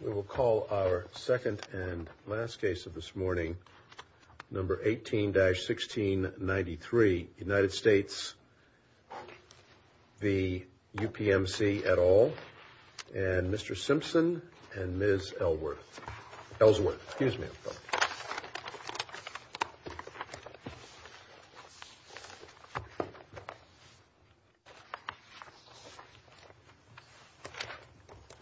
We will call our second and last case of this morning, No. 18-1693, United States v. UPMC et al., and Mr. Simpson and Ms. Ellsworth. Excuse me.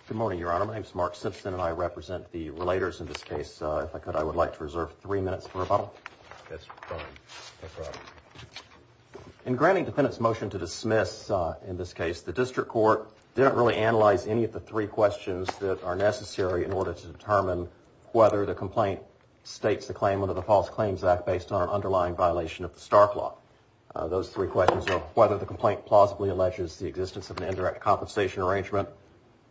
Good morning, Your Honor. My name is Mark Simpson, and I represent the relators in this case. If I could, I would like to reserve three minutes for rebuttal. That's fine. In granting defendants' motion to dismiss in this case, the district court didn't really analyze any of the three questions that are necessary in order to determine whether the complaint states the claim under the False Claims Act based on an underlying violation of the Stark Law. Those three questions are whether the complaint plausibly alleges the existence of an indirect compensation arrangement,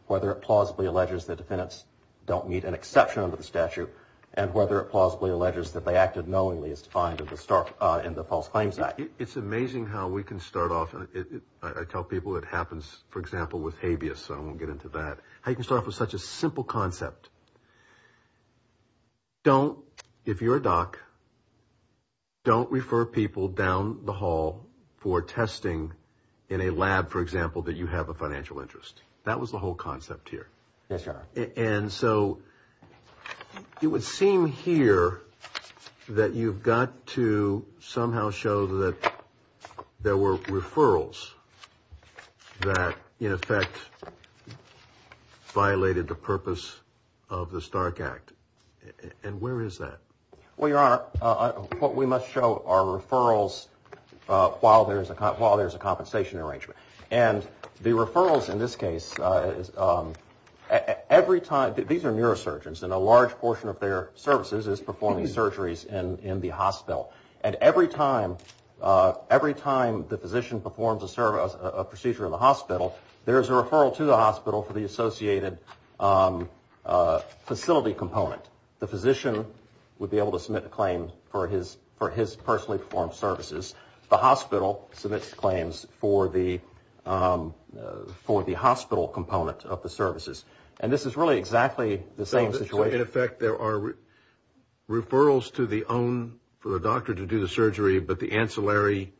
whether it plausibly alleges that defendants don't meet an exception under the statute, and whether it plausibly alleges that they acted knowingly as defined in the False Claims Act. It's amazing how we can start off, and I tell people it happens, for example, with habeas, so I won't get into that, how you can start off with such a simple concept. Don't, if you're a doc, don't refer people down the hall for testing in a lab, for example, that you have a financial interest. That was the whole concept here. Yes, Your Honor. And so it would seem here that you've got to somehow show that there were referrals that, in effect, violated the purpose of the Stark Act. And where is that? Well, Your Honor, what we must show are referrals while there's a compensation arrangement. And the referrals in this case, every time, these are neurosurgeons, and a large portion of their services is performing surgeries in the hospital. And every time the physician performs a procedure in the hospital, there's a referral to the hospital for the associated facility component. The physician would be able to submit a claim for his personally performed services. The hospital submits claims for the hospital component of the services. And this is really exactly the same situation. So in effect, there are referrals to the own, for the doctor to do the surgery, but the ancillary,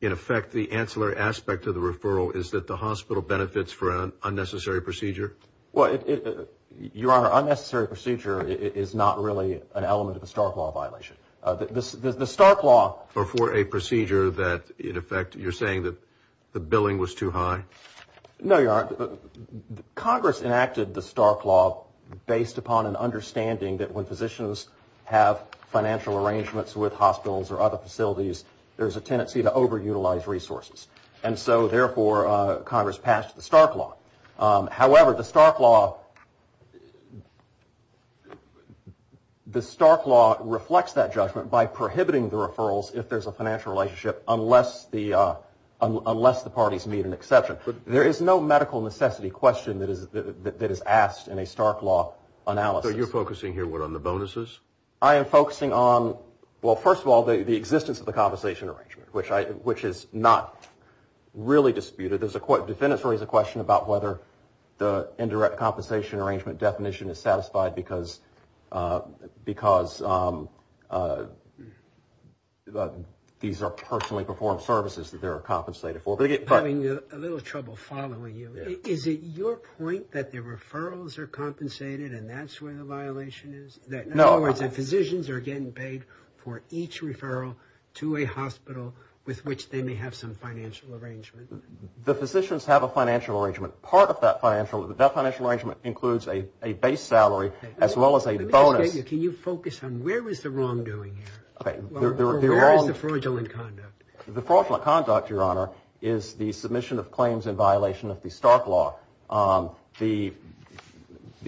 in effect, the ancillary aspect of the referral is that the hospital benefits from an unnecessary procedure? Well, Your Honor, unnecessary procedure is not really an element of a Stark Law violation. The Stark Law... Or for a procedure that, in effect, you're saying that the billing was too high? No, Your Honor. Congress enacted the Stark Law based upon an understanding that when physicians have financial arrangements with hospitals or other facilities, there's a tendency to overutilize resources. And so, therefore, Congress passed the Stark Law. However, the Stark Law reflects that judgment by prohibiting the referrals if there's a financial relationship unless the parties meet an exception. There is no medical necessity question that is asked in a Stark Law analysis. So you're focusing here, what, on the bonuses? I am focusing on, well, first of all, the existence of the compensation arrangement, which is not really disputed. Defendants raise a question about whether the indirect compensation arrangement definition is satisfied because these are personally performed services that they're compensated for. Having a little trouble following you, is it your point that the referrals are compensated and that's where the violation is? No. In other words, that physicians are getting paid for each referral to a hospital with which they may have some financial arrangement? The physicians have a financial arrangement. Part of that financial arrangement includes a base salary as well as a bonus. Can you focus on where is the wrongdoing here? Where is the fraudulent conduct? The fraudulent conduct, Your Honor, is the submission of claims in violation of the Stark Law. The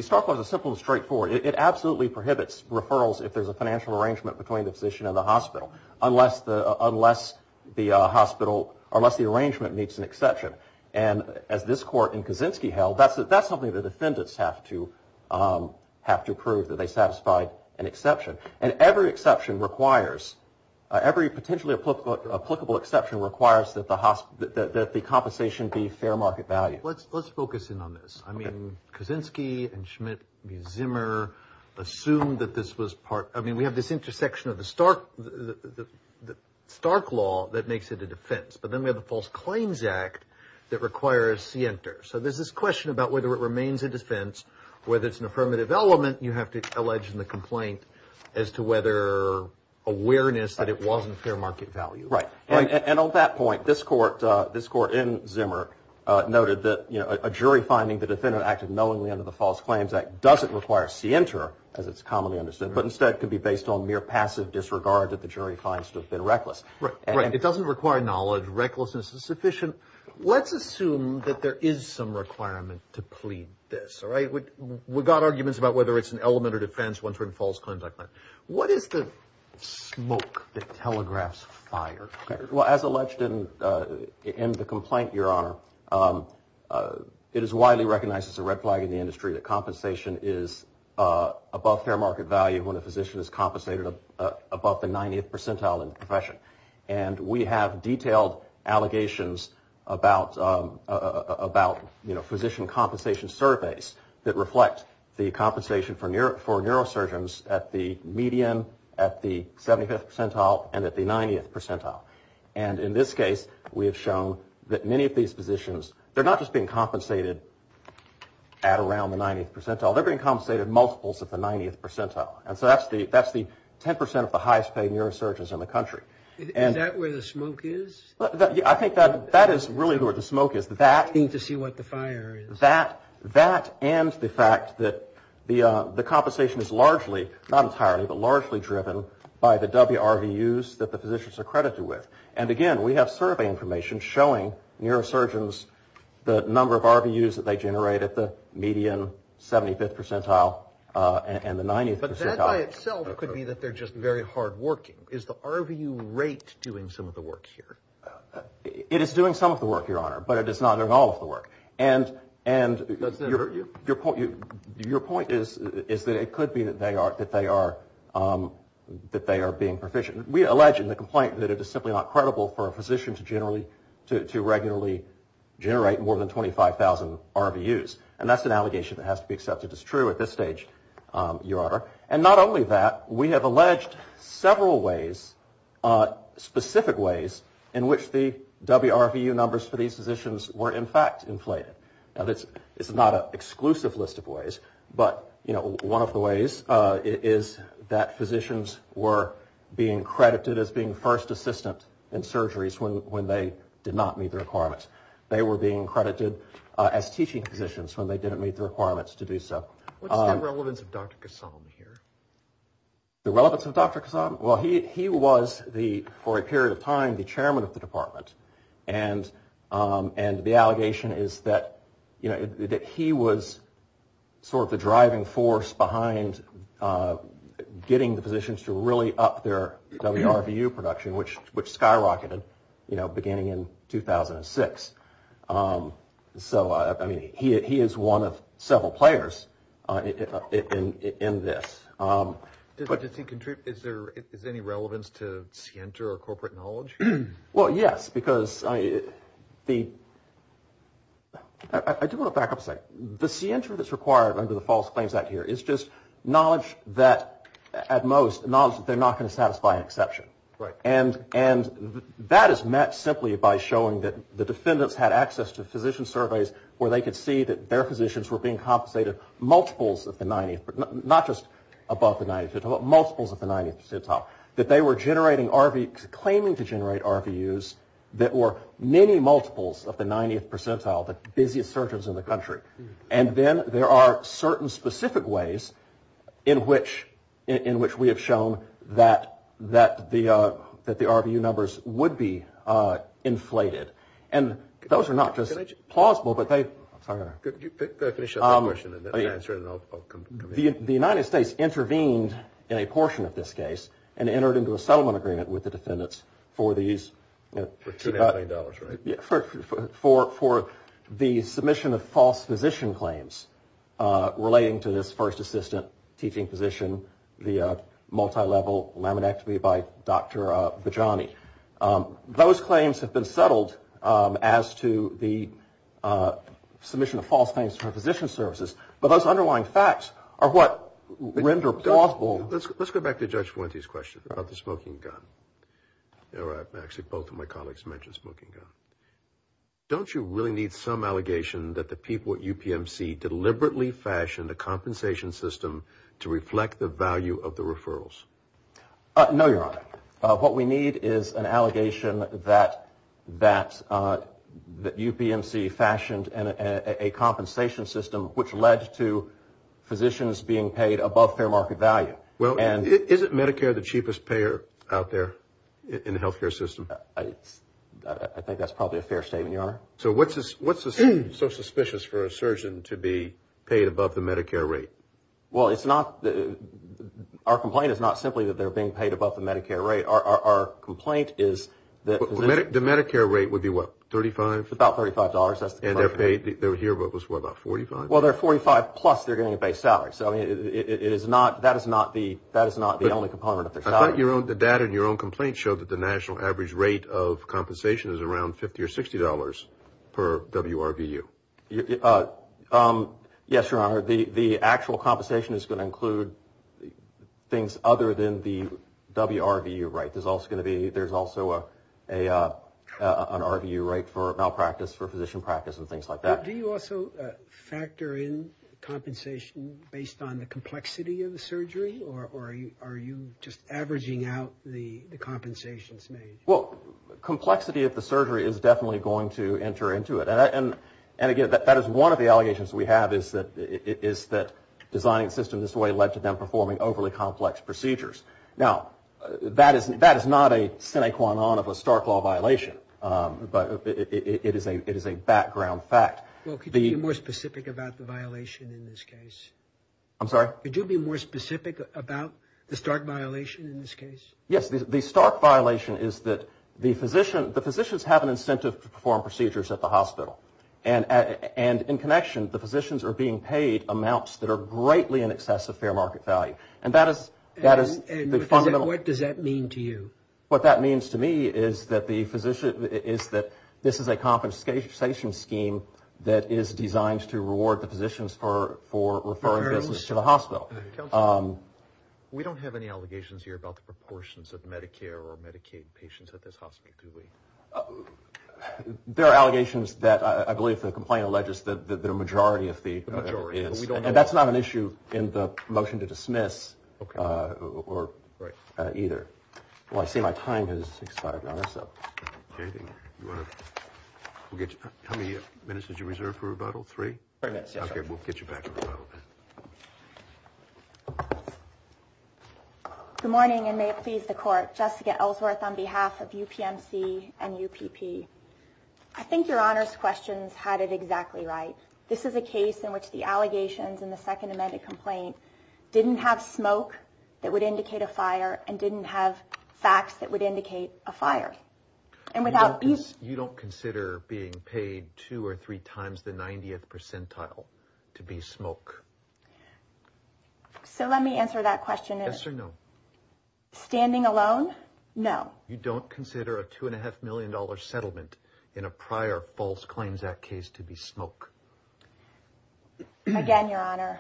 Stark Law is simple and straightforward. It absolutely prohibits referrals if there's a financial arrangement between the physician and the hospital unless the hospital, unless the arrangement meets an exception. And as this court in Kaczynski held, that's something the defendants have to prove that they satisfied an exception. And every exception requires, every potentially applicable exception requires that the compensation be fair market value. Let's focus in on this. I mean, Kaczynski and Schmidt v. Zimmer assumed that this was part, I mean, we have this intersection of the Stark Law that makes it a defense. But then we have the False Claims Act that requires scienter. So there's this question about whether it remains a defense, whether it's an affirmative element you have to allege in the complaint as to whether awareness that it wasn't fair market value. Right. And on that point, this court, this court in Zimmer noted that a jury finding the defendant acted knowingly under the False Claims Act doesn't require scienter, as it's commonly understood, but instead could be based on mere passive disregard that the jury finds to have been reckless. Right. It doesn't require knowledge. Recklessness is sufficient. Let's assume that there is some requirement to plead this. Right. We've got arguments about whether it's an element of defense, one for false conduct. But what is the smoke that telegraphs fire? Well, as alleged in the complaint, your honor, it is widely recognized as a red flag in the industry. The compensation is above fair market value when a physician is compensated above the 90th percentile in the profession. And we have detailed allegations about, you know, physician compensation surveys that reflect the compensation for neurosurgeons at the median, at the 75th percentile, and at the 90th percentile. And in this case, we have shown that many of these physicians, they're not just being compensated at around the 90th percentile, they're being compensated multiples of the 90th percentile. And so that's the 10 percent of the highest paid neurosurgeons in the country. Is that where the smoke is? I think that is really where the smoke is. To see what the fire is. That and the fact that the compensation is largely, not entirely, but largely driven by the WRVUs that the physicians are credited with. And again, we have survey information showing neurosurgeons the number of RVUs that they generate at the median 75th percentile and the 90th percentile. And that by itself could be that they're just very hard working. Is the RVU rate doing some of the work here? It is doing some of the work, Your Honor, but it is not doing all of the work. And your point is that it could be that they are being proficient. We allege in the complaint that it is simply not credible for a physician to regularly generate more than 25,000 RVUs. And that's an allegation that has to be accepted as true at this stage, Your Honor. And not only that, we have alleged several ways, specific ways, in which the WRVU numbers for these physicians were in fact inflated. Now, it's not an exclusive list of ways, but, you know, one of the ways is that physicians were being credited as being first assistants in surgeries when they did not meet the requirements. They were being credited as teaching physicians when they didn't meet the requirements to do so. What's the relevance of Dr. Kassam here? The relevance of Dr. Kassam? Well, he was, for a period of time, the chairman of the department. And the allegation is that he was sort of the driving force behind getting the physicians to really up their WRVU production, which skyrocketed, you know, beginning in 2006. So, I mean, he is one of several players in this. Does he contribute, is there any relevance to scienter or corporate knowledge? Well, yes, because the, I do want to back up a second. The scienter that's required under the False Claims Act here is just knowledge that at most, knowledge that they're not going to satisfy an exception. Right. And that is met simply by showing that the defendants had access to physician surveys where they could see that their physicians were being compensated multiples of the 90th, not just above the 90th, multiples of the 90th percentile, that they were generating RV, claiming to generate RVUs that were many multiples of the 90th percentile, the busiest surgeons in the country. And then there are certain specific ways in which we have shown that the RVU numbers would be inflated. And those are not just plausible, but they, I'm sorry. Could you finish up that question and then I'll come in. The United States intervened in a portion of this case and entered into a settlement agreement with the defendants for these. For $2.5 million, right? For the submission of false physician claims relating to this first assistant teaching position, the multilevel laminectomy by Dr. Bajani. Those claims have been settled as to the submission of false claims for physician services. But those underlying facts are what render plausible. Let's go back to Judge Fuente's question about the smoking gun. Actually, both of my colleagues mentioned smoking gun. Don't you really need some allegation that the people at UPMC deliberately fashioned a compensation system to reflect the value of the referrals? No, Your Honor. What we need is an allegation that UPMC fashioned a compensation system which led to physicians being paid above fair market value. Well, isn't Medicare the cheapest payer out there in the health care system? I think that's probably a fair statement, Your Honor. So what's so suspicious for a surgeon to be paid above the Medicare rate? Well, it's not, our complaint is not simply that they're being paid above the Medicare rate. Our complaint is that physicians... The Medicare rate would be what, $35? About $35. And they're paid, they're here what, about $45? Well, they're $45 plus they're getting a base salary. So it is not, that is not the only component of their salary. I thought your own, the data in your own complaint showed that the national average rate of compensation is around $50 or $60 per WRVU. Yes, Your Honor. The actual compensation is going to include things other than the WRVU rate. There's also going to be, there's also an RVU rate for malpractice, for physician practice and things like that. Do you also factor in compensation based on the complexity of the surgery, or are you just averaging out the compensations made? Well, complexity of the surgery is definitely going to enter into it. And again, that is one of the allegations we have is that designing the system this way led to them performing overly complex procedures. Now, that is not a sine qua non of a Stark Law violation. It is a background fact. Well, could you be more specific about the violation in this case? I'm sorry? Could you be more specific about the Stark violation in this case? Yes, the Stark violation is that the physician, the physicians have an incentive to perform procedures at the hospital. And in connection, the physicians are being paid amounts that are greatly in excess of fair market value. And that is the fundamental... And what does that mean to you? What that means to me is that this is a compensation scheme that is designed to reward the physicians for referring business to the hospital. Counsel, we don't have any allegations here about the proportions of Medicare or Medicaid patients at this hospital, do we? There are allegations that I believe the complaint alleges that the majority of the... The majority, but we don't know... And that's not an issue in the motion to dismiss either. Well, I see my time has expired, Your Honor, so... How many minutes did you reserve for rebuttal? Three? Three minutes, yes, Your Honor. Okay, we'll get you back to rebuttal. Good morning, and may it please the Court. Jessica Ellsworth on behalf of UPMC and UPP. I think Your Honor's questions had it exactly right. This is a case in which the allegations in the second amended complaint didn't have smoke that would indicate a fire and didn't have facts that would indicate a fire. And without... You don't consider being paid two or three times the 90th percentile to be smoke? So let me answer that question. Yes or no? Standing alone, no. You don't consider a $2.5 million settlement in a prior false claims act case to be smoke? Again, Your Honor,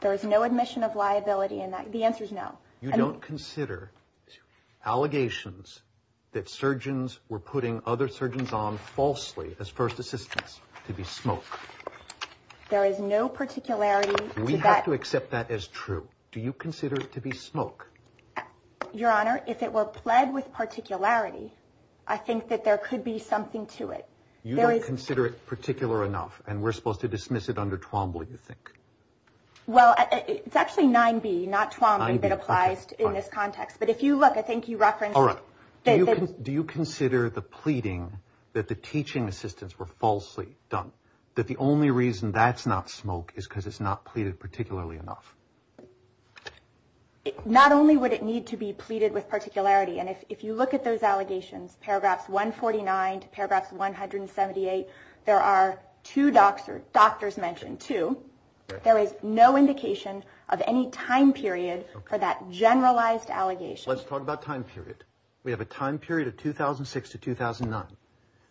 there is no admission of liability in that. The answer is no. You don't consider allegations that surgeons were putting other surgeons on falsely as first assistants to be smoke? There is no particularity to that. We have to accept that as true. Do you consider it to be smoke? Your Honor, if it were pled with particularity, I think that there could be something to it. You don't consider it particular enough, and we're supposed to dismiss it under Twombly, you think? Well, it's actually 9B, not Twombly, that applies in this context. But if you look, I think you referenced... All right. Do you consider the pleading that the teaching assistants were falsely done, that the only reason that's not smoke is because it's not pleaded particularly enough? Not only would it need to be pleaded with particularity, and if you look at those allegations, paragraphs 149 to paragraphs 178, there are two doctors mentioned, too. There is no indication of any time period for that generalized allegation. Let's talk about time period. We have a time period of 2006 to 2009.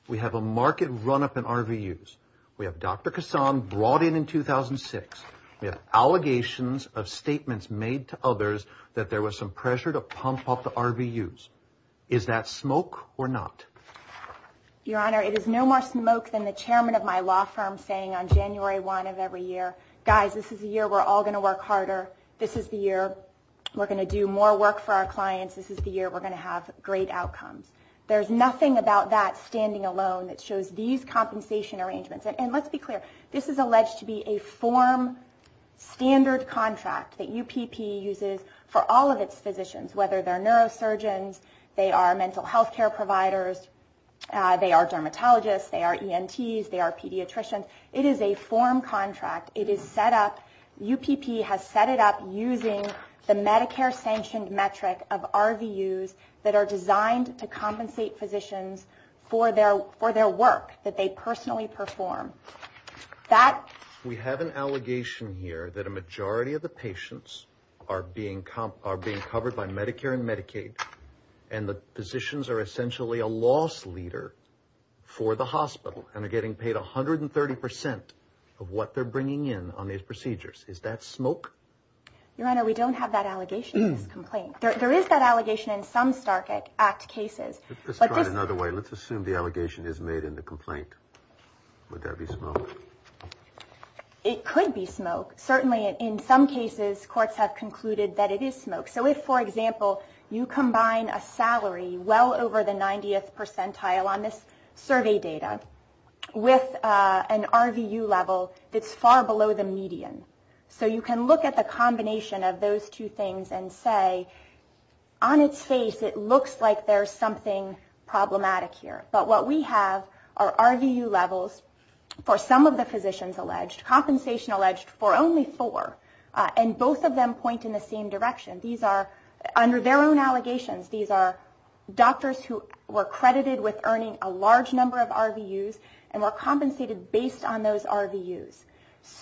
We have a market run-up in RVUs. We have Dr. Kassam brought in in 2006. We have allegations of statements made to others that there was some pressure to pump up the RVUs. Is that smoke or not? Your Honor, it is no more smoke than the chairman of my law firm saying on January 1 of every year, guys, this is the year we're all going to work harder. This is the year we're going to do more work for our clients. This is the year we're going to have great outcomes. There's nothing about that standing alone that shows these compensation arrangements. And let's be clear, this is alleged to be a form standard contract that UPP uses for all of its physicians, whether they're neurosurgeons, they are mental health care providers, they are dermatologists, they are ENTs, they are pediatricians. It is a form contract. It is set up, UPP has set it up using the Medicare-sanctioned metric of RVUs that are designed to compensate physicians for their work that they personally perform. We have an allegation here that a majority of the patients are being covered by Medicare and Medicaid and the physicians are essentially a loss leader for the hospital and are getting paid 130% of what they're bringing in on these procedures. Is that smoke? Your Honor, we don't have that allegation in this complaint. There is that allegation in some Stark Act cases. Let's try it another way. Let's assume the allegation is made in the complaint. Would that be smoke? It could be smoke. Certainly in some cases, courts have concluded that it is smoke. So if, for example, you combine a salary well over the 90th percentile on this survey data with an RVU level that's far below the median, so you can look at the combination of those two things and say, on its face it looks like there's something problematic here. But what we have are RVU levels for some of the physicians alleged, compensation alleged for only four, and both of them point in the same direction. These are, under their own allegations, these are doctors who were credited with earning a large number of RVUs and were compensated based on those RVUs.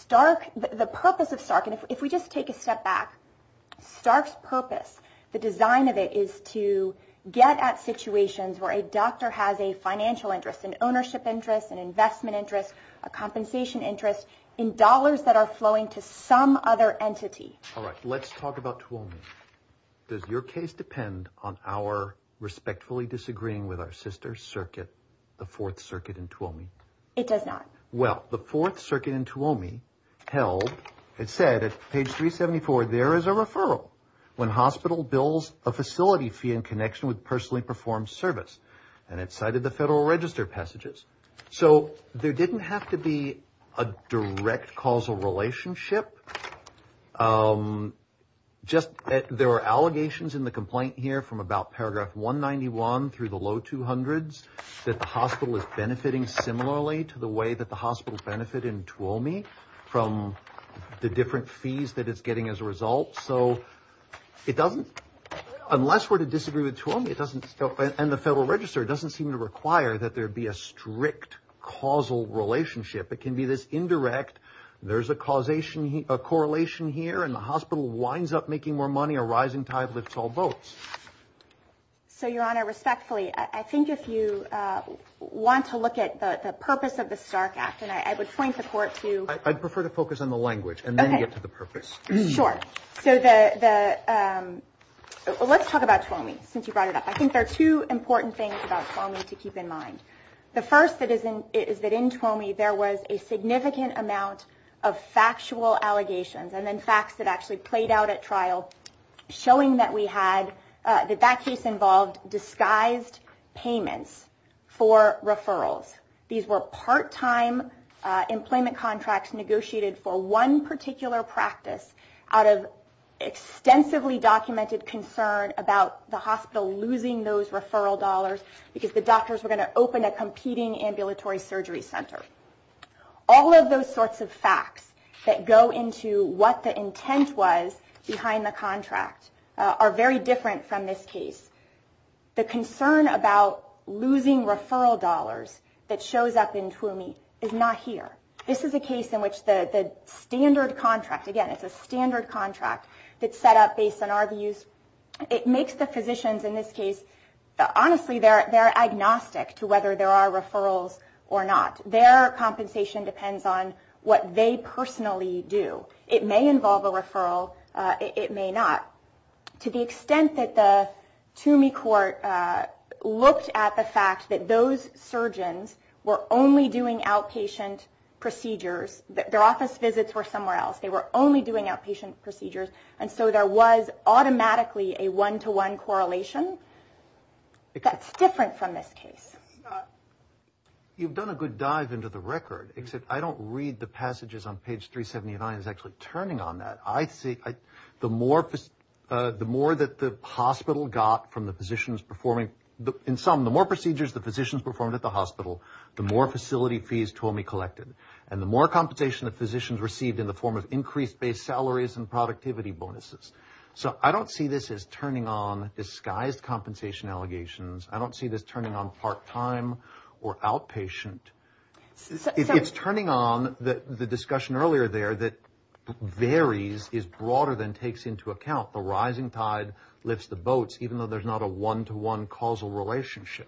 The purpose of Stark, and if we just take a step back, Stark's purpose, the design of it is to get at situations where a doctor has a financial interest, an ownership interest, an investment interest, a compensation interest, in dollars that are flowing to some other entity. All right. Let's talk about Tuolumne. Does your case depend on our respectfully disagreeing with our sister circuit, the Fourth Circuit in Tuolumne? It does not. Well, the Fourth Circuit in Tuolumne held, it said at page 374, there is a referral when hospital bills a facility fee in connection with personally performed service. And it cited the Federal Register passages. So there didn't have to be a direct causal relationship. Just that there were allegations in the complaint here from about paragraph 191 through the low 200s that the hospital is benefiting similarly to the way that the hospitals benefit in Tuolumne from the different fees that it's getting as a result. So it doesn't, unless we're to disagree with Tuolumne, and the Federal Register, it doesn't seem to require that there be a strict causal relationship. It can be this indirect, there's a causation, a correlation here, and the hospital winds up making more money, a rising tide lifts all boats. So, Your Honor, respectfully, I think if you want to look at the purpose of the Stark Act, and I would point the Court to- I'd prefer to focus on the language and then get to the purpose. Let's talk about Tuolumne since you brought it up. I think there are two important things about Tuolumne to keep in mind. The first is that in Tuolumne, there was a significant amount of factual allegations and then facts that actually played out at trial showing that we had, that that case involved disguised payments for referrals. These were part-time employment contracts negotiated for one particular practice out of extensively documented concern about the hospital losing those referral dollars because the doctors were going to open a competing ambulatory surgery center. All of those sorts of facts that go into what the intent was behind the contract are very different from this case. The concern about losing referral dollars that shows up in Tuolumne is not here. This is a case in which the standard contract- again, it's a standard contract that's set up based on our views. It makes the physicians in this case- honestly, they're agnostic to whether there are referrals or not. Their compensation depends on what they personally do. It may involve a referral, it may not. To the extent that the TUMI court looked at the fact that those surgeons were only doing outpatient procedures- their office visits were somewhere else. They were only doing outpatient procedures and so there was automatically a one-to-one correlation. That's different from this case. You've done a good dive into the record, except I don't read the passages on page 379 as actually turning on that. The more that the hospital got from the physicians performing- in sum, the more procedures the physicians performed at the hospital, the more facility fees TUMI collected, and the more compensation the physicians received in the form of increased base salaries and productivity bonuses. So I don't see this as turning on disguised compensation allegations. I don't see this turning on part-time or outpatient. It's turning on the discussion earlier there that varies is broader than takes into account. The rising tide lifts the boats, even though there's not a one-to-one causal relationship.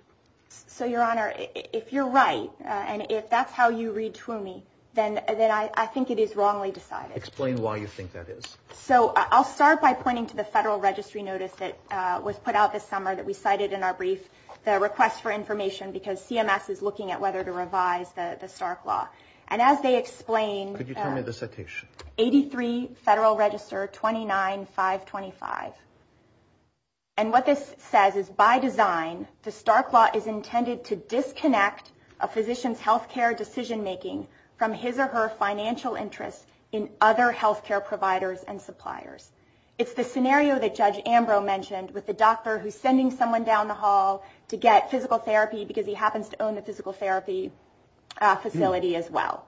So, Your Honor, if you're right, and if that's how you read TUMI, then I think it is wrongly decided. Explain why you think that is. So I'll start by pointing to the federal registry notice that was put out this summer that we cited in our brief, the request for information, because CMS is looking at whether to revise the Stark Law. And as they explained- Could you tell me the citation? 83 Federal Register 29525. And what this says is, by design, the Stark Law is intended to disconnect a physician's health care decision-making from his or her financial interests in other health care providers and suppliers. It's the scenario that Judge Ambrose mentioned with the doctor who's sending someone down the hall to get physical therapy because he happens to own the physical therapy facility as well.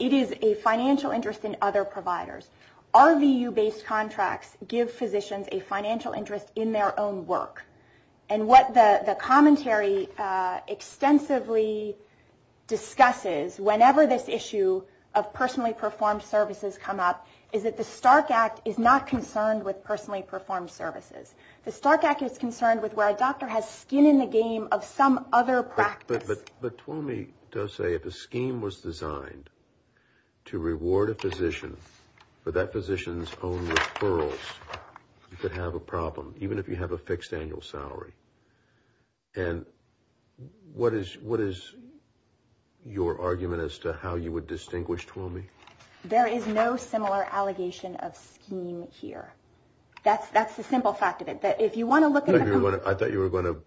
It is a financial interest in other providers. RVU-based contracts give physicians a financial interest in their own work. And what the commentary extensively discusses whenever this issue of personally performed services come up is that the Stark Act is not concerned with personally performed services. The Stark Act is concerned with where a doctor has skin in the game of some other practice. But Twomey does say if a scheme was designed to reward a physician for that physician's own referrals, you could have a problem, even if you have a fixed annual salary. And what is your argument as to how you would distinguish Twomey? There is no similar allegation of scheme here. That's the simple fact of it. I thought you were going to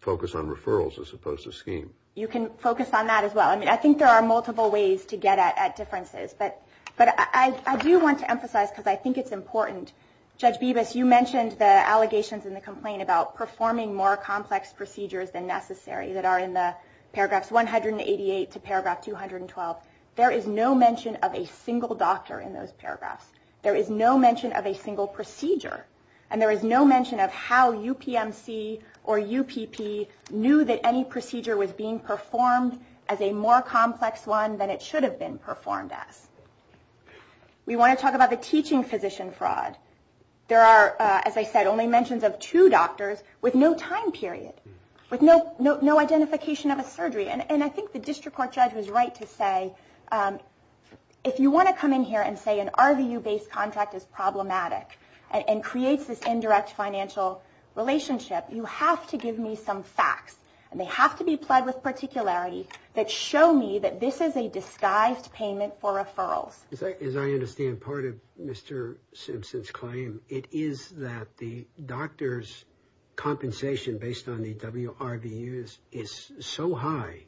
focus on referrals as opposed to scheme. You can focus on that as well. I think there are multiple ways to get at differences. But I do want to emphasize, because I think it's important, Judge Bibas, you mentioned the allegations in the complaint about performing more complex procedures than necessary that are in the paragraphs 188 to paragraph 212. There is no mention of a single doctor in those paragraphs. There is no mention of a single procedure. And there is no mention of how UPMC or UPP knew that any procedure was being performed as a more complex one than it should have been performed as. We want to talk about the teaching physician fraud. There are, as I said, only mentions of two doctors with no time period, with no identification of a surgery. And I think the district court judge was right to say, if you want to come in here and say an RVU-based contract is problematic and creates this indirect financial relationship, you have to give me some facts. And they have to be applied with particularity that show me that this is a disguised payment for referrals. As I understand part of Mr. Simpson's claim, it is that the doctor's compensation based on the WRVUs is so high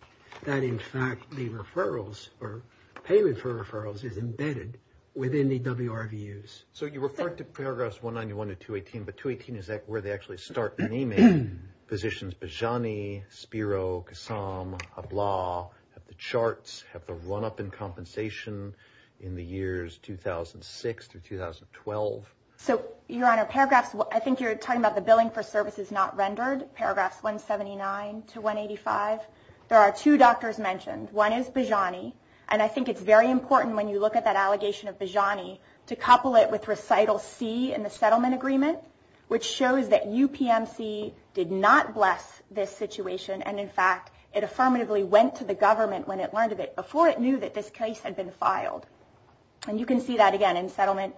that in fact the referrals, or payment for referrals, is embedded within the WRVUs. So you refer to paragraphs 191 to 218, but 218 is where they actually start naming physicians Bejani, Spiro, Kassam, Ablah, have the charts, have the run-up in compensation in the years 2006 to 2012. So, Your Honor, I think you're talking about the billing for services not rendered, paragraphs 179 to 185. There are two doctors mentioned. One is Bejani. And I think it's very important when you look at that allegation of Bejani to couple it with recital C in the settlement agreement, which shows that UPMC did not bless this situation, and in fact it affirmatively went to the government when it learned of it before it knew that this case had been filed. And you can see that again in settlement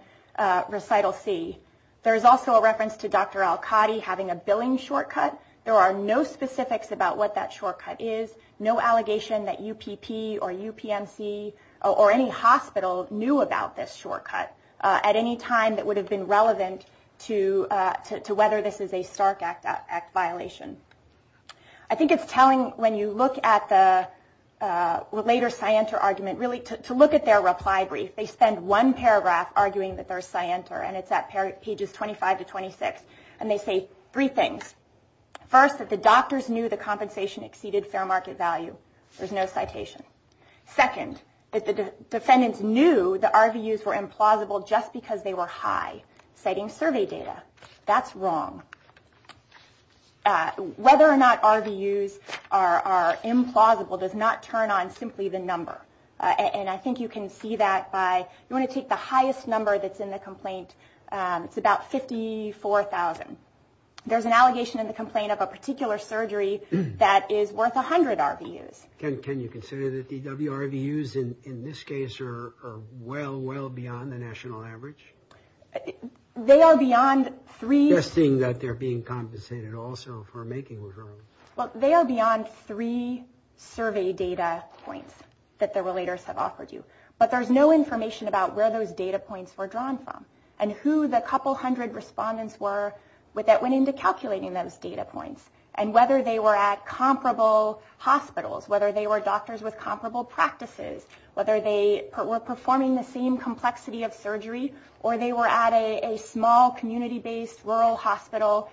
recital C. There is also a reference to Dr. Al-Qadi having a billing shortcut. There are no specifics about what that shortcut is, no allegation that UPP or UPMC or any hospital knew about this shortcut at any time that would have been relevant to whether this is a Stark Act violation. I think it's telling when you look at the later scienter argument, really to look at their reply brief. They spend one paragraph arguing that they're scienter, and it's at pages 25 to 26, and they say three things. First, that the doctors knew the compensation exceeded fair market value. There's no citation. Second, that the defendants knew the RVUs were implausible just because they were high, citing survey data. That's wrong. Whether or not RVUs are implausible does not turn on simply the number. And I think you can see that by you want to take the highest number that's in the complaint. It's about 54,000. There's an allegation in the complaint of a particular surgery that is worth 100 RVUs. Can you consider that DWRVUs in this case are well, well beyond the national average? They are beyond three. I'm just seeing that they're being compensated also for making referrals. Well, they are beyond three survey data points that the relators have offered you. But there's no information about where those data points were drawn from and who the couple hundred respondents were that went into calculating those data points and whether they were at comparable hospitals, whether they were doctors with comparable practices, whether they were performing the same complexity of surgery, or they were at a small community-based rural hospital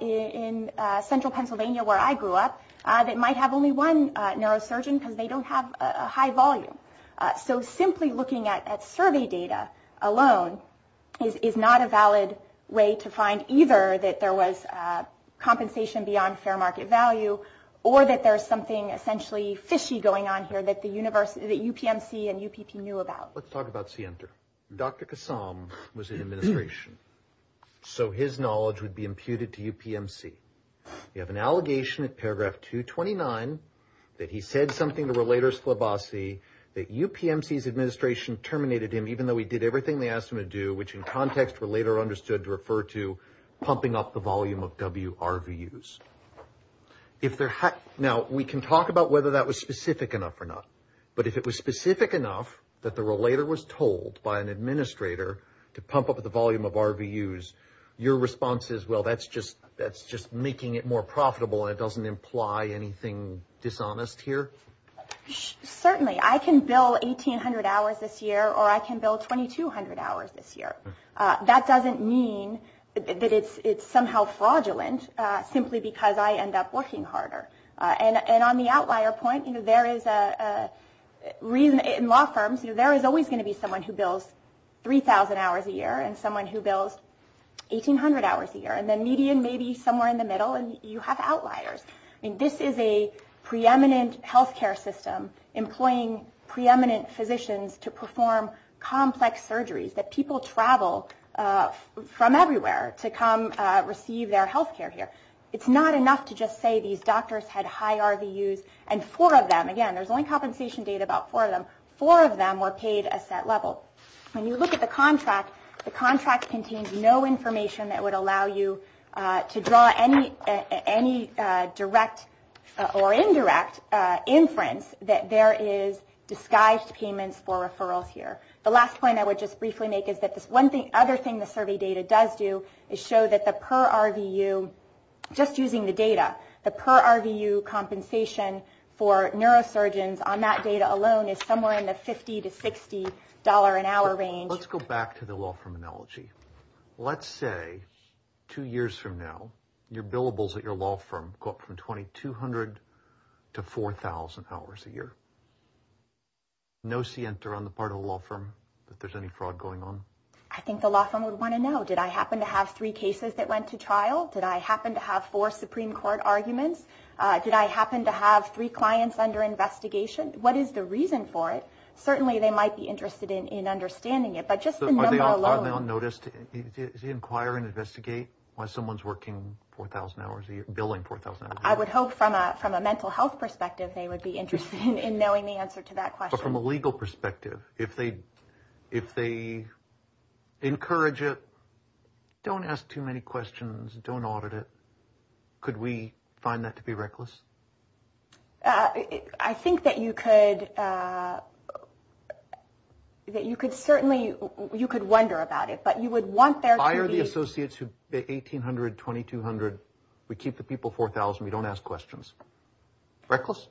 in central Pennsylvania where I grew up that might have only one neurosurgeon because they don't have a high volume. So simply looking at survey data alone is not a valid way to find either that there was compensation beyond fair market value or that there's something essentially fishy going on here that UPMC and UPP knew about. Let's talk about Sienter. Dr. Kassam was in administration, so his knowledge would be imputed to UPMC. You have an allegation in paragraph 229 that he said something to Relator Slabasi that UPMC's administration terminated him even though he did everything they asked him to do, which in context Relator understood to refer to pumping up the volume of WRVUs. Now, we can talk about whether that was specific enough or not, but if it was specific enough that the Relator was told by an administrator to pump up the volume of RVUs, your response is, well, that's just making it more profitable and it doesn't imply anything dishonest here? Certainly. I can bill 1,800 hours this year or I can bill 2,200 hours this year. That doesn't mean that it's somehow fraudulent simply because I end up working harder. On the outlier point, in law firms, there is always going to be someone who bills 3,000 hours a year and someone who bills 1,800 hours a year. The median may be somewhere in the middle, and you have outliers. This is a preeminent health care system employing preeminent physicians to perform complex surgeries that people travel from everywhere to come receive their health care here. It's not enough to just say these doctors had high RVUs and four of them, again, there's only compensation data about four of them, four of them were paid a set level. When you look at the contract, the contract contains no information that would allow you to draw any direct or indirect inference that there is disguised payments for referrals here. The last point I would just briefly make is that the other thing the survey data does do is show that the per RVU, just using the data, the per RVU compensation for neurosurgeons on that data alone is somewhere in the $50 to $60 an hour range. Let's go back to the law firm analogy. Let's say two years from now, your billables at your law firm go up from 2,200 to 4,000 hours a year. No scienter on the part of the law firm that there's any fraud going on? I think the law firm would want to know, did I happen to have three cases that went to trial? Did I happen to have four Supreme Court arguments? Did I happen to have three clients under investigation? What is the reason for it? Certainly they might be interested in understanding it, but just the number alone. Are they on notice to inquire and investigate why someone's working 4,000 hours a year, billing 4,000 hours a year? I would hope from a mental health perspective they would be interested in knowing the answer to that question. Or from a legal perspective, if they encourage it, don't ask too many questions, don't audit it. Could we find that to be reckless? I think that you could. That you could certainly, you could wonder about it, but you would want there to be. Hire the associates who, the 1,800, 2,200, we keep the people 4,000, we don't ask questions. Reckless?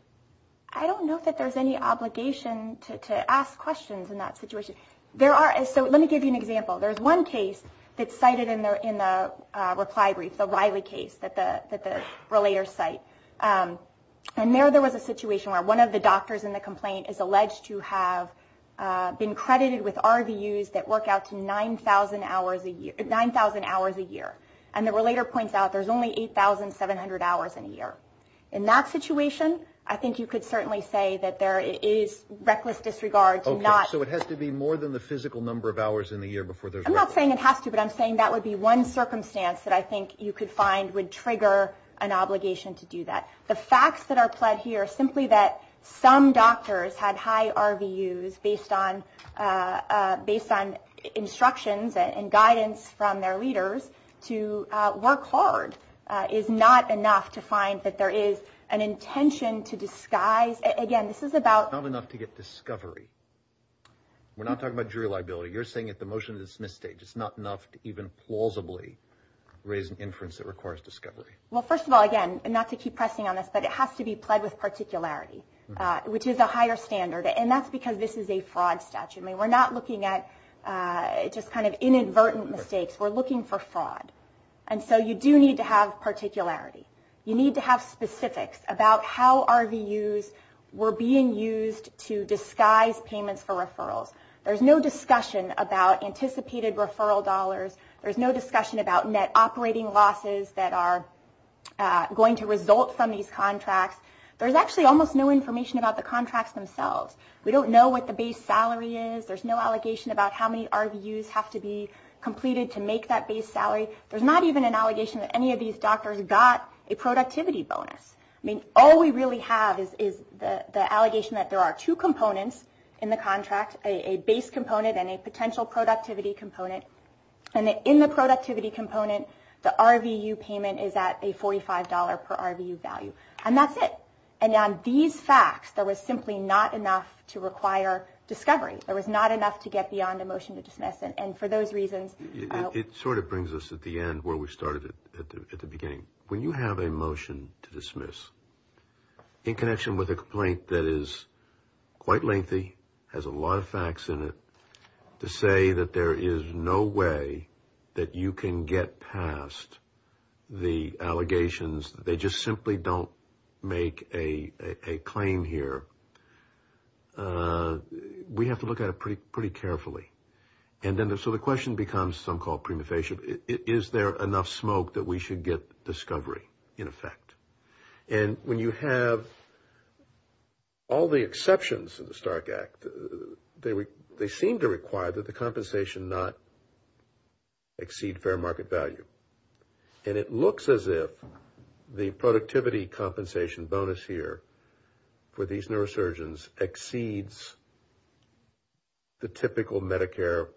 I don't know that there's any obligation to ask questions in that situation. There are, so let me give you an example. There's one case that's cited in the reply brief, the Riley case that the relators cite. And there was a situation where one of the doctors in the complaint is alleged to have been credited with RVUs that work out to 9,000 hours a year. And the relator points out there's only 8,700 hours in a year. In that situation, I think you could certainly say that there is reckless disregard to not. Okay, so it has to be more than the physical number of hours in the year before there's reckless. I'm not saying it has to, but I'm saying that would be one circumstance that I think you could find would trigger an obligation to do that. The facts that are pled here, simply that some doctors had high RVUs based on instructions and guidance from their leaders to work hard, is not enough to find that there is an intention to disguise. Again, this is about. Not enough to get discovery. We're not talking about jury liability. You're saying at the motion-to-dismiss stage, it's not enough to even plausibly raise an inference that requires discovery. Well, first of all, again, not to keep pressing on this, but it has to be pled with particularity, which is a higher standard. And that's because this is a fraud statute. We're not looking at just kind of inadvertent mistakes. We're looking for fraud. And so you do need to have particularity. You need to have specifics about how RVUs were being used to disguise payments for referrals. There's no discussion about anticipated referral dollars. There's no discussion about net operating losses that are going to result from these contracts. There's actually almost no information about the contracts themselves. We don't know what the base salary is. There's no allegation about how many RVUs have to be completed to make that base salary. There's not even an allegation that any of these doctors got a productivity bonus. I mean, all we really have is the allegation that there are two components in the contract, a base component and a potential productivity component. And in the productivity component, the RVU payment is at a $45 per RVU value. And that's it. And on these facts, there was simply not enough to require discovery. There was not enough to get beyond a motion to dismiss. And for those reasons – It sort of brings us at the end where we started at the beginning. When you have a motion to dismiss, in connection with a complaint that is quite lengthy, has a lot of facts in it, to say that there is no way that you can get past the allegations, they just simply don't make a claim here, we have to look at it pretty carefully. So the question becomes, some call it prima facie, is there enough smoke that we should get discovery in effect? And when you have all the exceptions in the Stark Act, they seem to require that the compensation not exceed fair market value. And it looks as if the productivity compensation bonus here for these neurosurgeons exceeds the typical Medicare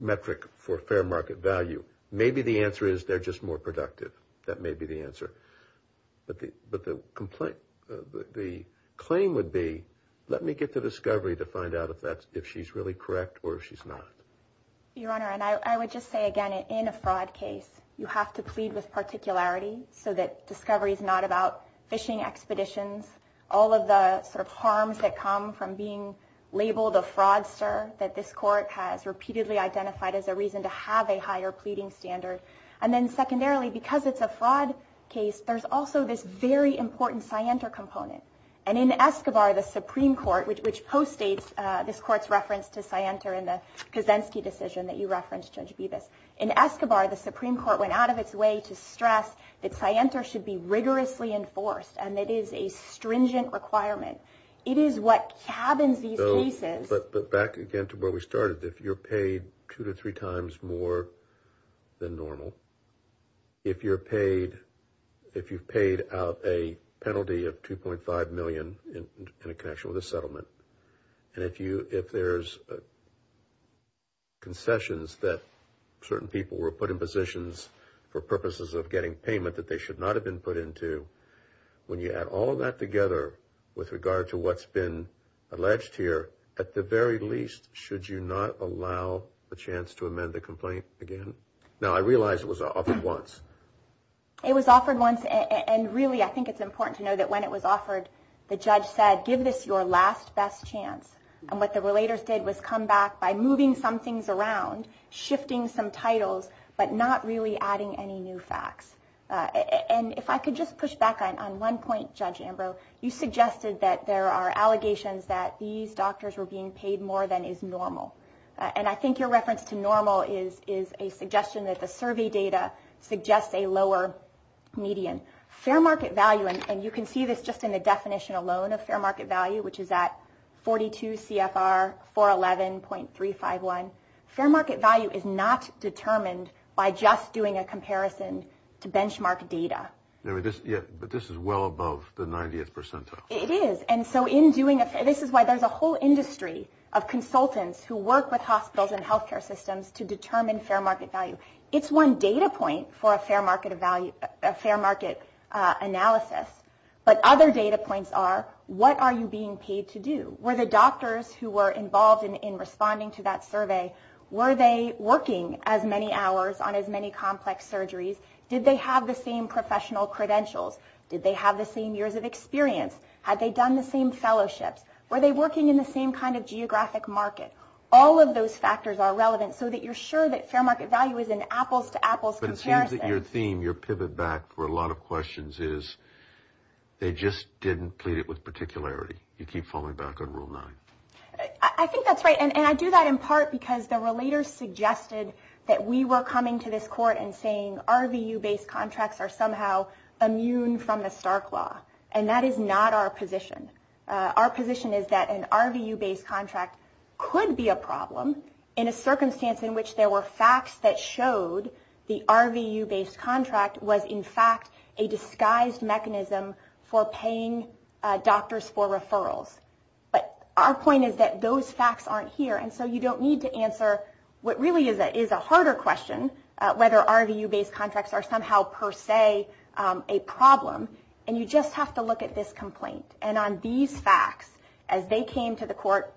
metric for fair market value. Maybe the answer is they're just more productive. That may be the answer. But the claim would be, let me get to discovery to find out if she's really correct or if she's not. Your Honor, and I would just say again, in a fraud case, you have to plead with particularity, so that discovery is not about fishing expeditions, all of the sort of harms that come from being labeled a fraudster that this court has repeatedly identified as a reason to have a higher pleading standard. And then secondarily, because it's a fraud case, there's also this very important scienter component. And in Escobar, the Supreme Court, which postdates this court's reference to scienter in the Kaczynski decision that you referenced, Judge Bevis. In Escobar, the Supreme Court went out of its way to stress that scienter should be rigorously enforced and it is a stringent requirement. It is what cabins these cases. But back again to where we started. If you're paid two to three times more than normal, if you've paid out a penalty of $2.5 million in a connection with a settlement, and if there's concessions that certain people were put in positions for purposes of getting payment that they should not have been put into, when you add all of that together with regard to what's been alleged here, at the very least, should you not allow a chance to amend the complaint again? Now, I realize it was offered once. It was offered once, and really I think it's important to know that when it was offered, the judge said, give this your last best chance. And what the relators did was come back by moving some things around, shifting some titles, but not really adding any new facts. And if I could just push back on one point, Judge Ambrose, you suggested that there are allegations that these doctors were being paid more than is normal. And I think your reference to normal is a suggestion that the survey data suggests a lower median. Fair market value, and you can see this just in the definition alone of fair market value, which is at 42 CFR 411.351. Fair market value is not determined by just doing a comparison to benchmark data. But this is well above the 90th percentile. It is. And so this is why there's a whole industry of consultants who work with hospitals and health care systems to determine fair market value. It's one data point for a fair market analysis, but other data points are, what are you being paid to do? Were the doctors who were involved in responding to that survey, were they working as many hours on as many complex surgeries? Did they have the same professional credentials? Did they have the same years of experience? Had they done the same fellowships? Were they working in the same kind of geographic market? All of those factors are relevant so that you're sure that fair market value is an apples to apples comparison. But it seems that your theme, your pivot back for a lot of questions is they just didn't plead it with particularity. You keep falling back on rule nine. I think that's right. And I do that in part because the relators suggested that we were coming to this court and saying RVU-based contracts are somehow immune from the Stark Law. And that is not our position. Our position is that an RVU-based contract could be a problem in a circumstance in which there were facts that showed the RVU-based contract was in fact a disguised mechanism for paying doctors for referrals. But our point is that those facts aren't here. And so you don't need to answer what really is a harder question, whether RVU-based contracts are somehow per se a problem. And you just have to look at this complaint. And on these facts, as they came to the court,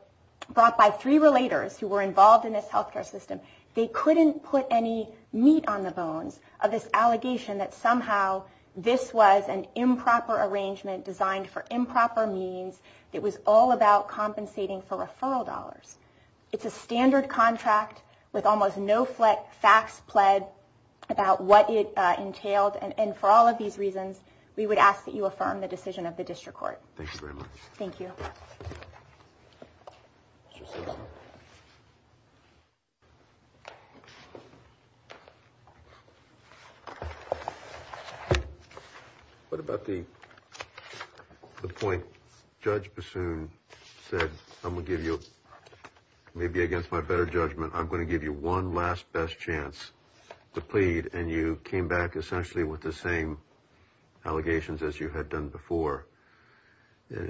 brought by three relators who were involved in this health care system, they couldn't put any meat on the bones of this allegation that somehow this was an improper arrangement designed for improper means. It was all about compensating for referral dollars. It's a standard contract with almost no facts pled about what it entailed. And for all of these reasons, we would ask that you affirm the decision of the district court. Thank you very much. Thank you. Thank you. What about the point Judge Bassoon said? I'm going to give you, maybe against my better judgment, I'm going to give you one last best chance to plead. And you came back essentially with the same allegations as you had done before.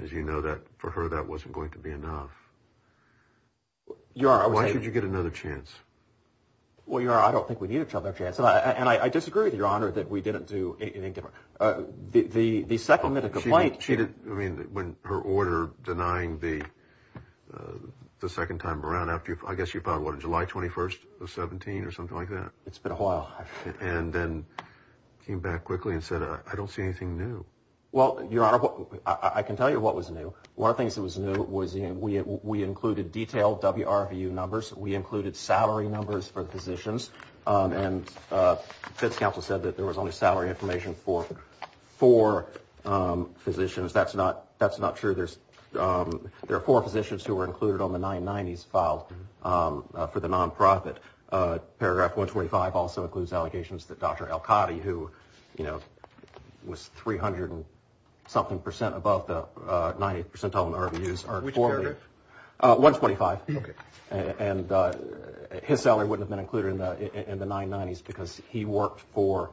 As you know, for her, that wasn't going to be enough. Your Honor. Why don't you get another chance? Well, Your Honor, I don't think we need another chance. And I disagree with you, Your Honor, that we didn't do anything different. The second minute complaint. I mean, when her order denying the second time around, I guess you filed what, July 21st of 17 or something like that? It's been a while. And then came back quickly and said, I don't see anything new. Well, Your Honor, I can tell you what was new. One of the things that was new was we included detailed WRVU numbers. We included salary numbers for physicians. And the Feds Council said that there was only salary information for four physicians. That's not true. There are four physicians who were included on the 990s filed for the nonprofit. Paragraph 125 also includes allegations that Dr. Elkady, who, you know, was 300 and something percent above the 90th percentile in the RVUs. Which paragraph? 125. Okay. And his salary wouldn't have been included in the 990s because he worked for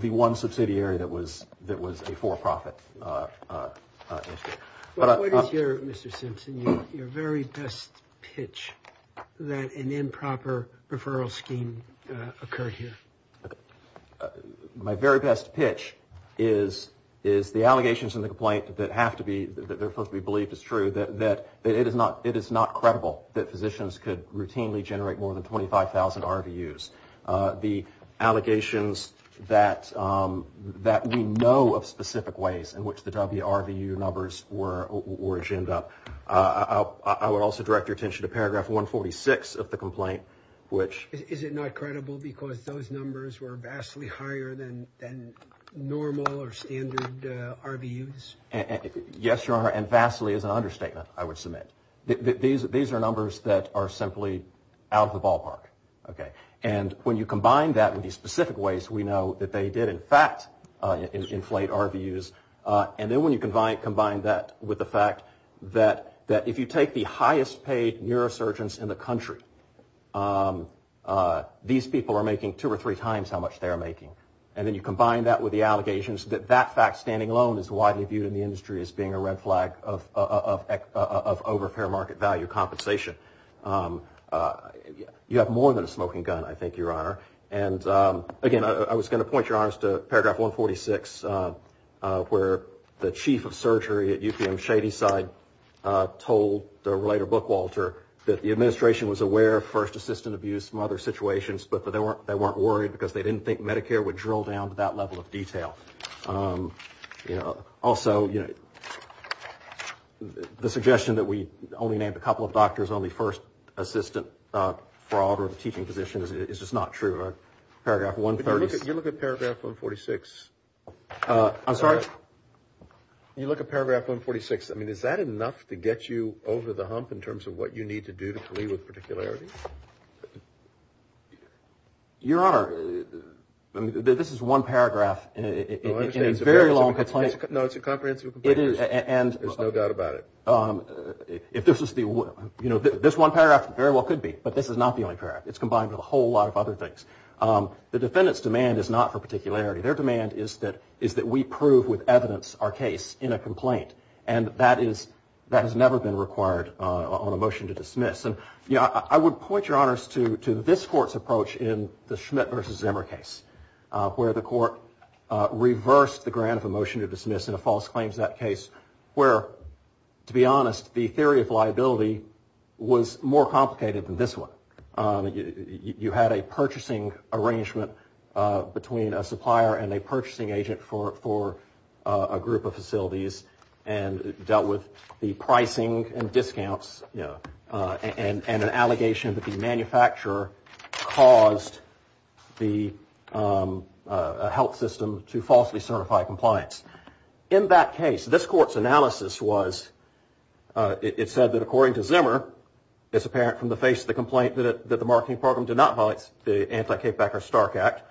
the one subsidiary that was a for-profit. What is your, Mr. Simpson, your very best pitch that an improper referral scheme occurred here? My very best pitch is the allegations in the complaint that have to be, that are supposed to be believed as true, that it is not credible that physicians could routinely generate more than 25,000 RVUs. The allegations that we know of specific ways in which the WRVU numbers were ginned up. I would also direct your attention to paragraph 146 of the complaint, which. Is it not credible because those numbers were vastly higher than normal or standard RVUs? Yes, Your Honor, and vastly is an understatement, I would submit. These are numbers that are simply out of the ballpark. Okay. And when you combine that with the specific ways we know that they did, in fact, inflate RVUs. And then when you combine that with the fact that if you take the highest paid neurosurgeons in the country, these people are making two or three times how much they are making. And then you combine that with the allegations that that fact standing alone is widely viewed in the industry as being a red flag of overfair market value compensation. You have more than a smoking gun, I think, Your Honor. And, again, I was going to point, Your Honor, to paragraph 146, where the chief of surgery at UPM Shadyside told the writer Bookwalter that the administration was aware of first assistant abuse and other situations, but that they weren't worried because they didn't think Medicare would drill down to that level of detail. Also, the suggestion that we only named a couple of doctors only first assistant fraud or teaching positions is just not true. Paragraph 136. You look at paragraph 146. I'm sorry? You look at paragraph 146. I mean, is that enough to get you over the hump in terms of what you need to do to plead with particularity? Your Honor, this is one paragraph in a very long complaint. No, it's a comprehensive complaint. There's no doubt about it. This one paragraph very well could be, but this is not the only paragraph. It's combined with a whole lot of other things. The defendant's demand is not for particularity. Their demand is that we prove with evidence our case in a complaint, and that has never been required on a motion to dismiss. And, you know, I would point your honors to this court's approach in the Schmidt v. Zimmer case, where the court reversed the grant of a motion to dismiss in a false claim to that case, where, to be honest, the theory of liability was more complicated than this one. You had a purchasing arrangement between a supplier and a purchasing agent for a group of facilities and dealt with the pricing and discounts, you know, and an allegation that the manufacturer caused the health system to falsely certify compliance. In that case, this court's analysis was it said that, according to Zimmer, it's apparent from the face of the complaint that the marketing program did not violate the anti-K-Becker-Stark Act.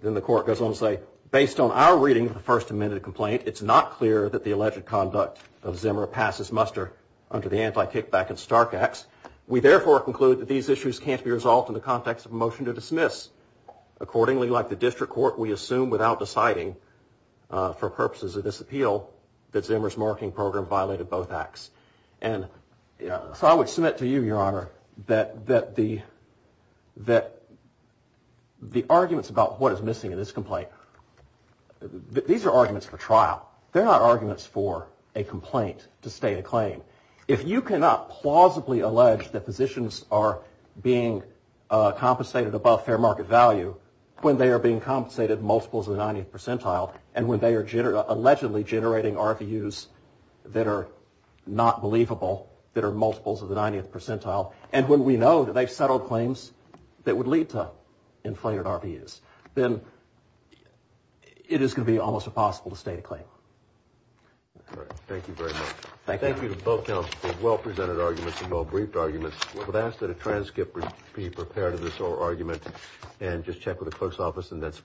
Then the court goes on to say, based on our reading of the First Amendment complaint, it's not clear that the alleged conduct of Zimmer passes muster under the anti-K-Becker-Stark Acts. We therefore conclude that these issues can't be resolved in the context of a motion to dismiss. Accordingly, like the district court, we assume without deciding, for purposes of this appeal, that Zimmer's marketing program violated both acts. And so I would submit to you, your honor, that the arguments about what is missing in this complaint, these are arguments for trial. They're not arguments for a complaint to state a claim. If you cannot plausibly allege that physicians are being compensated above fair market value when they are being compensated multiples of the 90th percentile and when they are allegedly generating RVUs that are not believable, that are multiples of the 90th percentile, and when we know that they've settled claims that would lead to inflated RVUs, then it is going to be almost impossible to state a claim. All right. Thank you very much. Thank you. Thank you to both counsels for well-presented arguments and well-briefed arguments. I would ask that a transcript be prepared of this whole argument and just check with the clerk's office.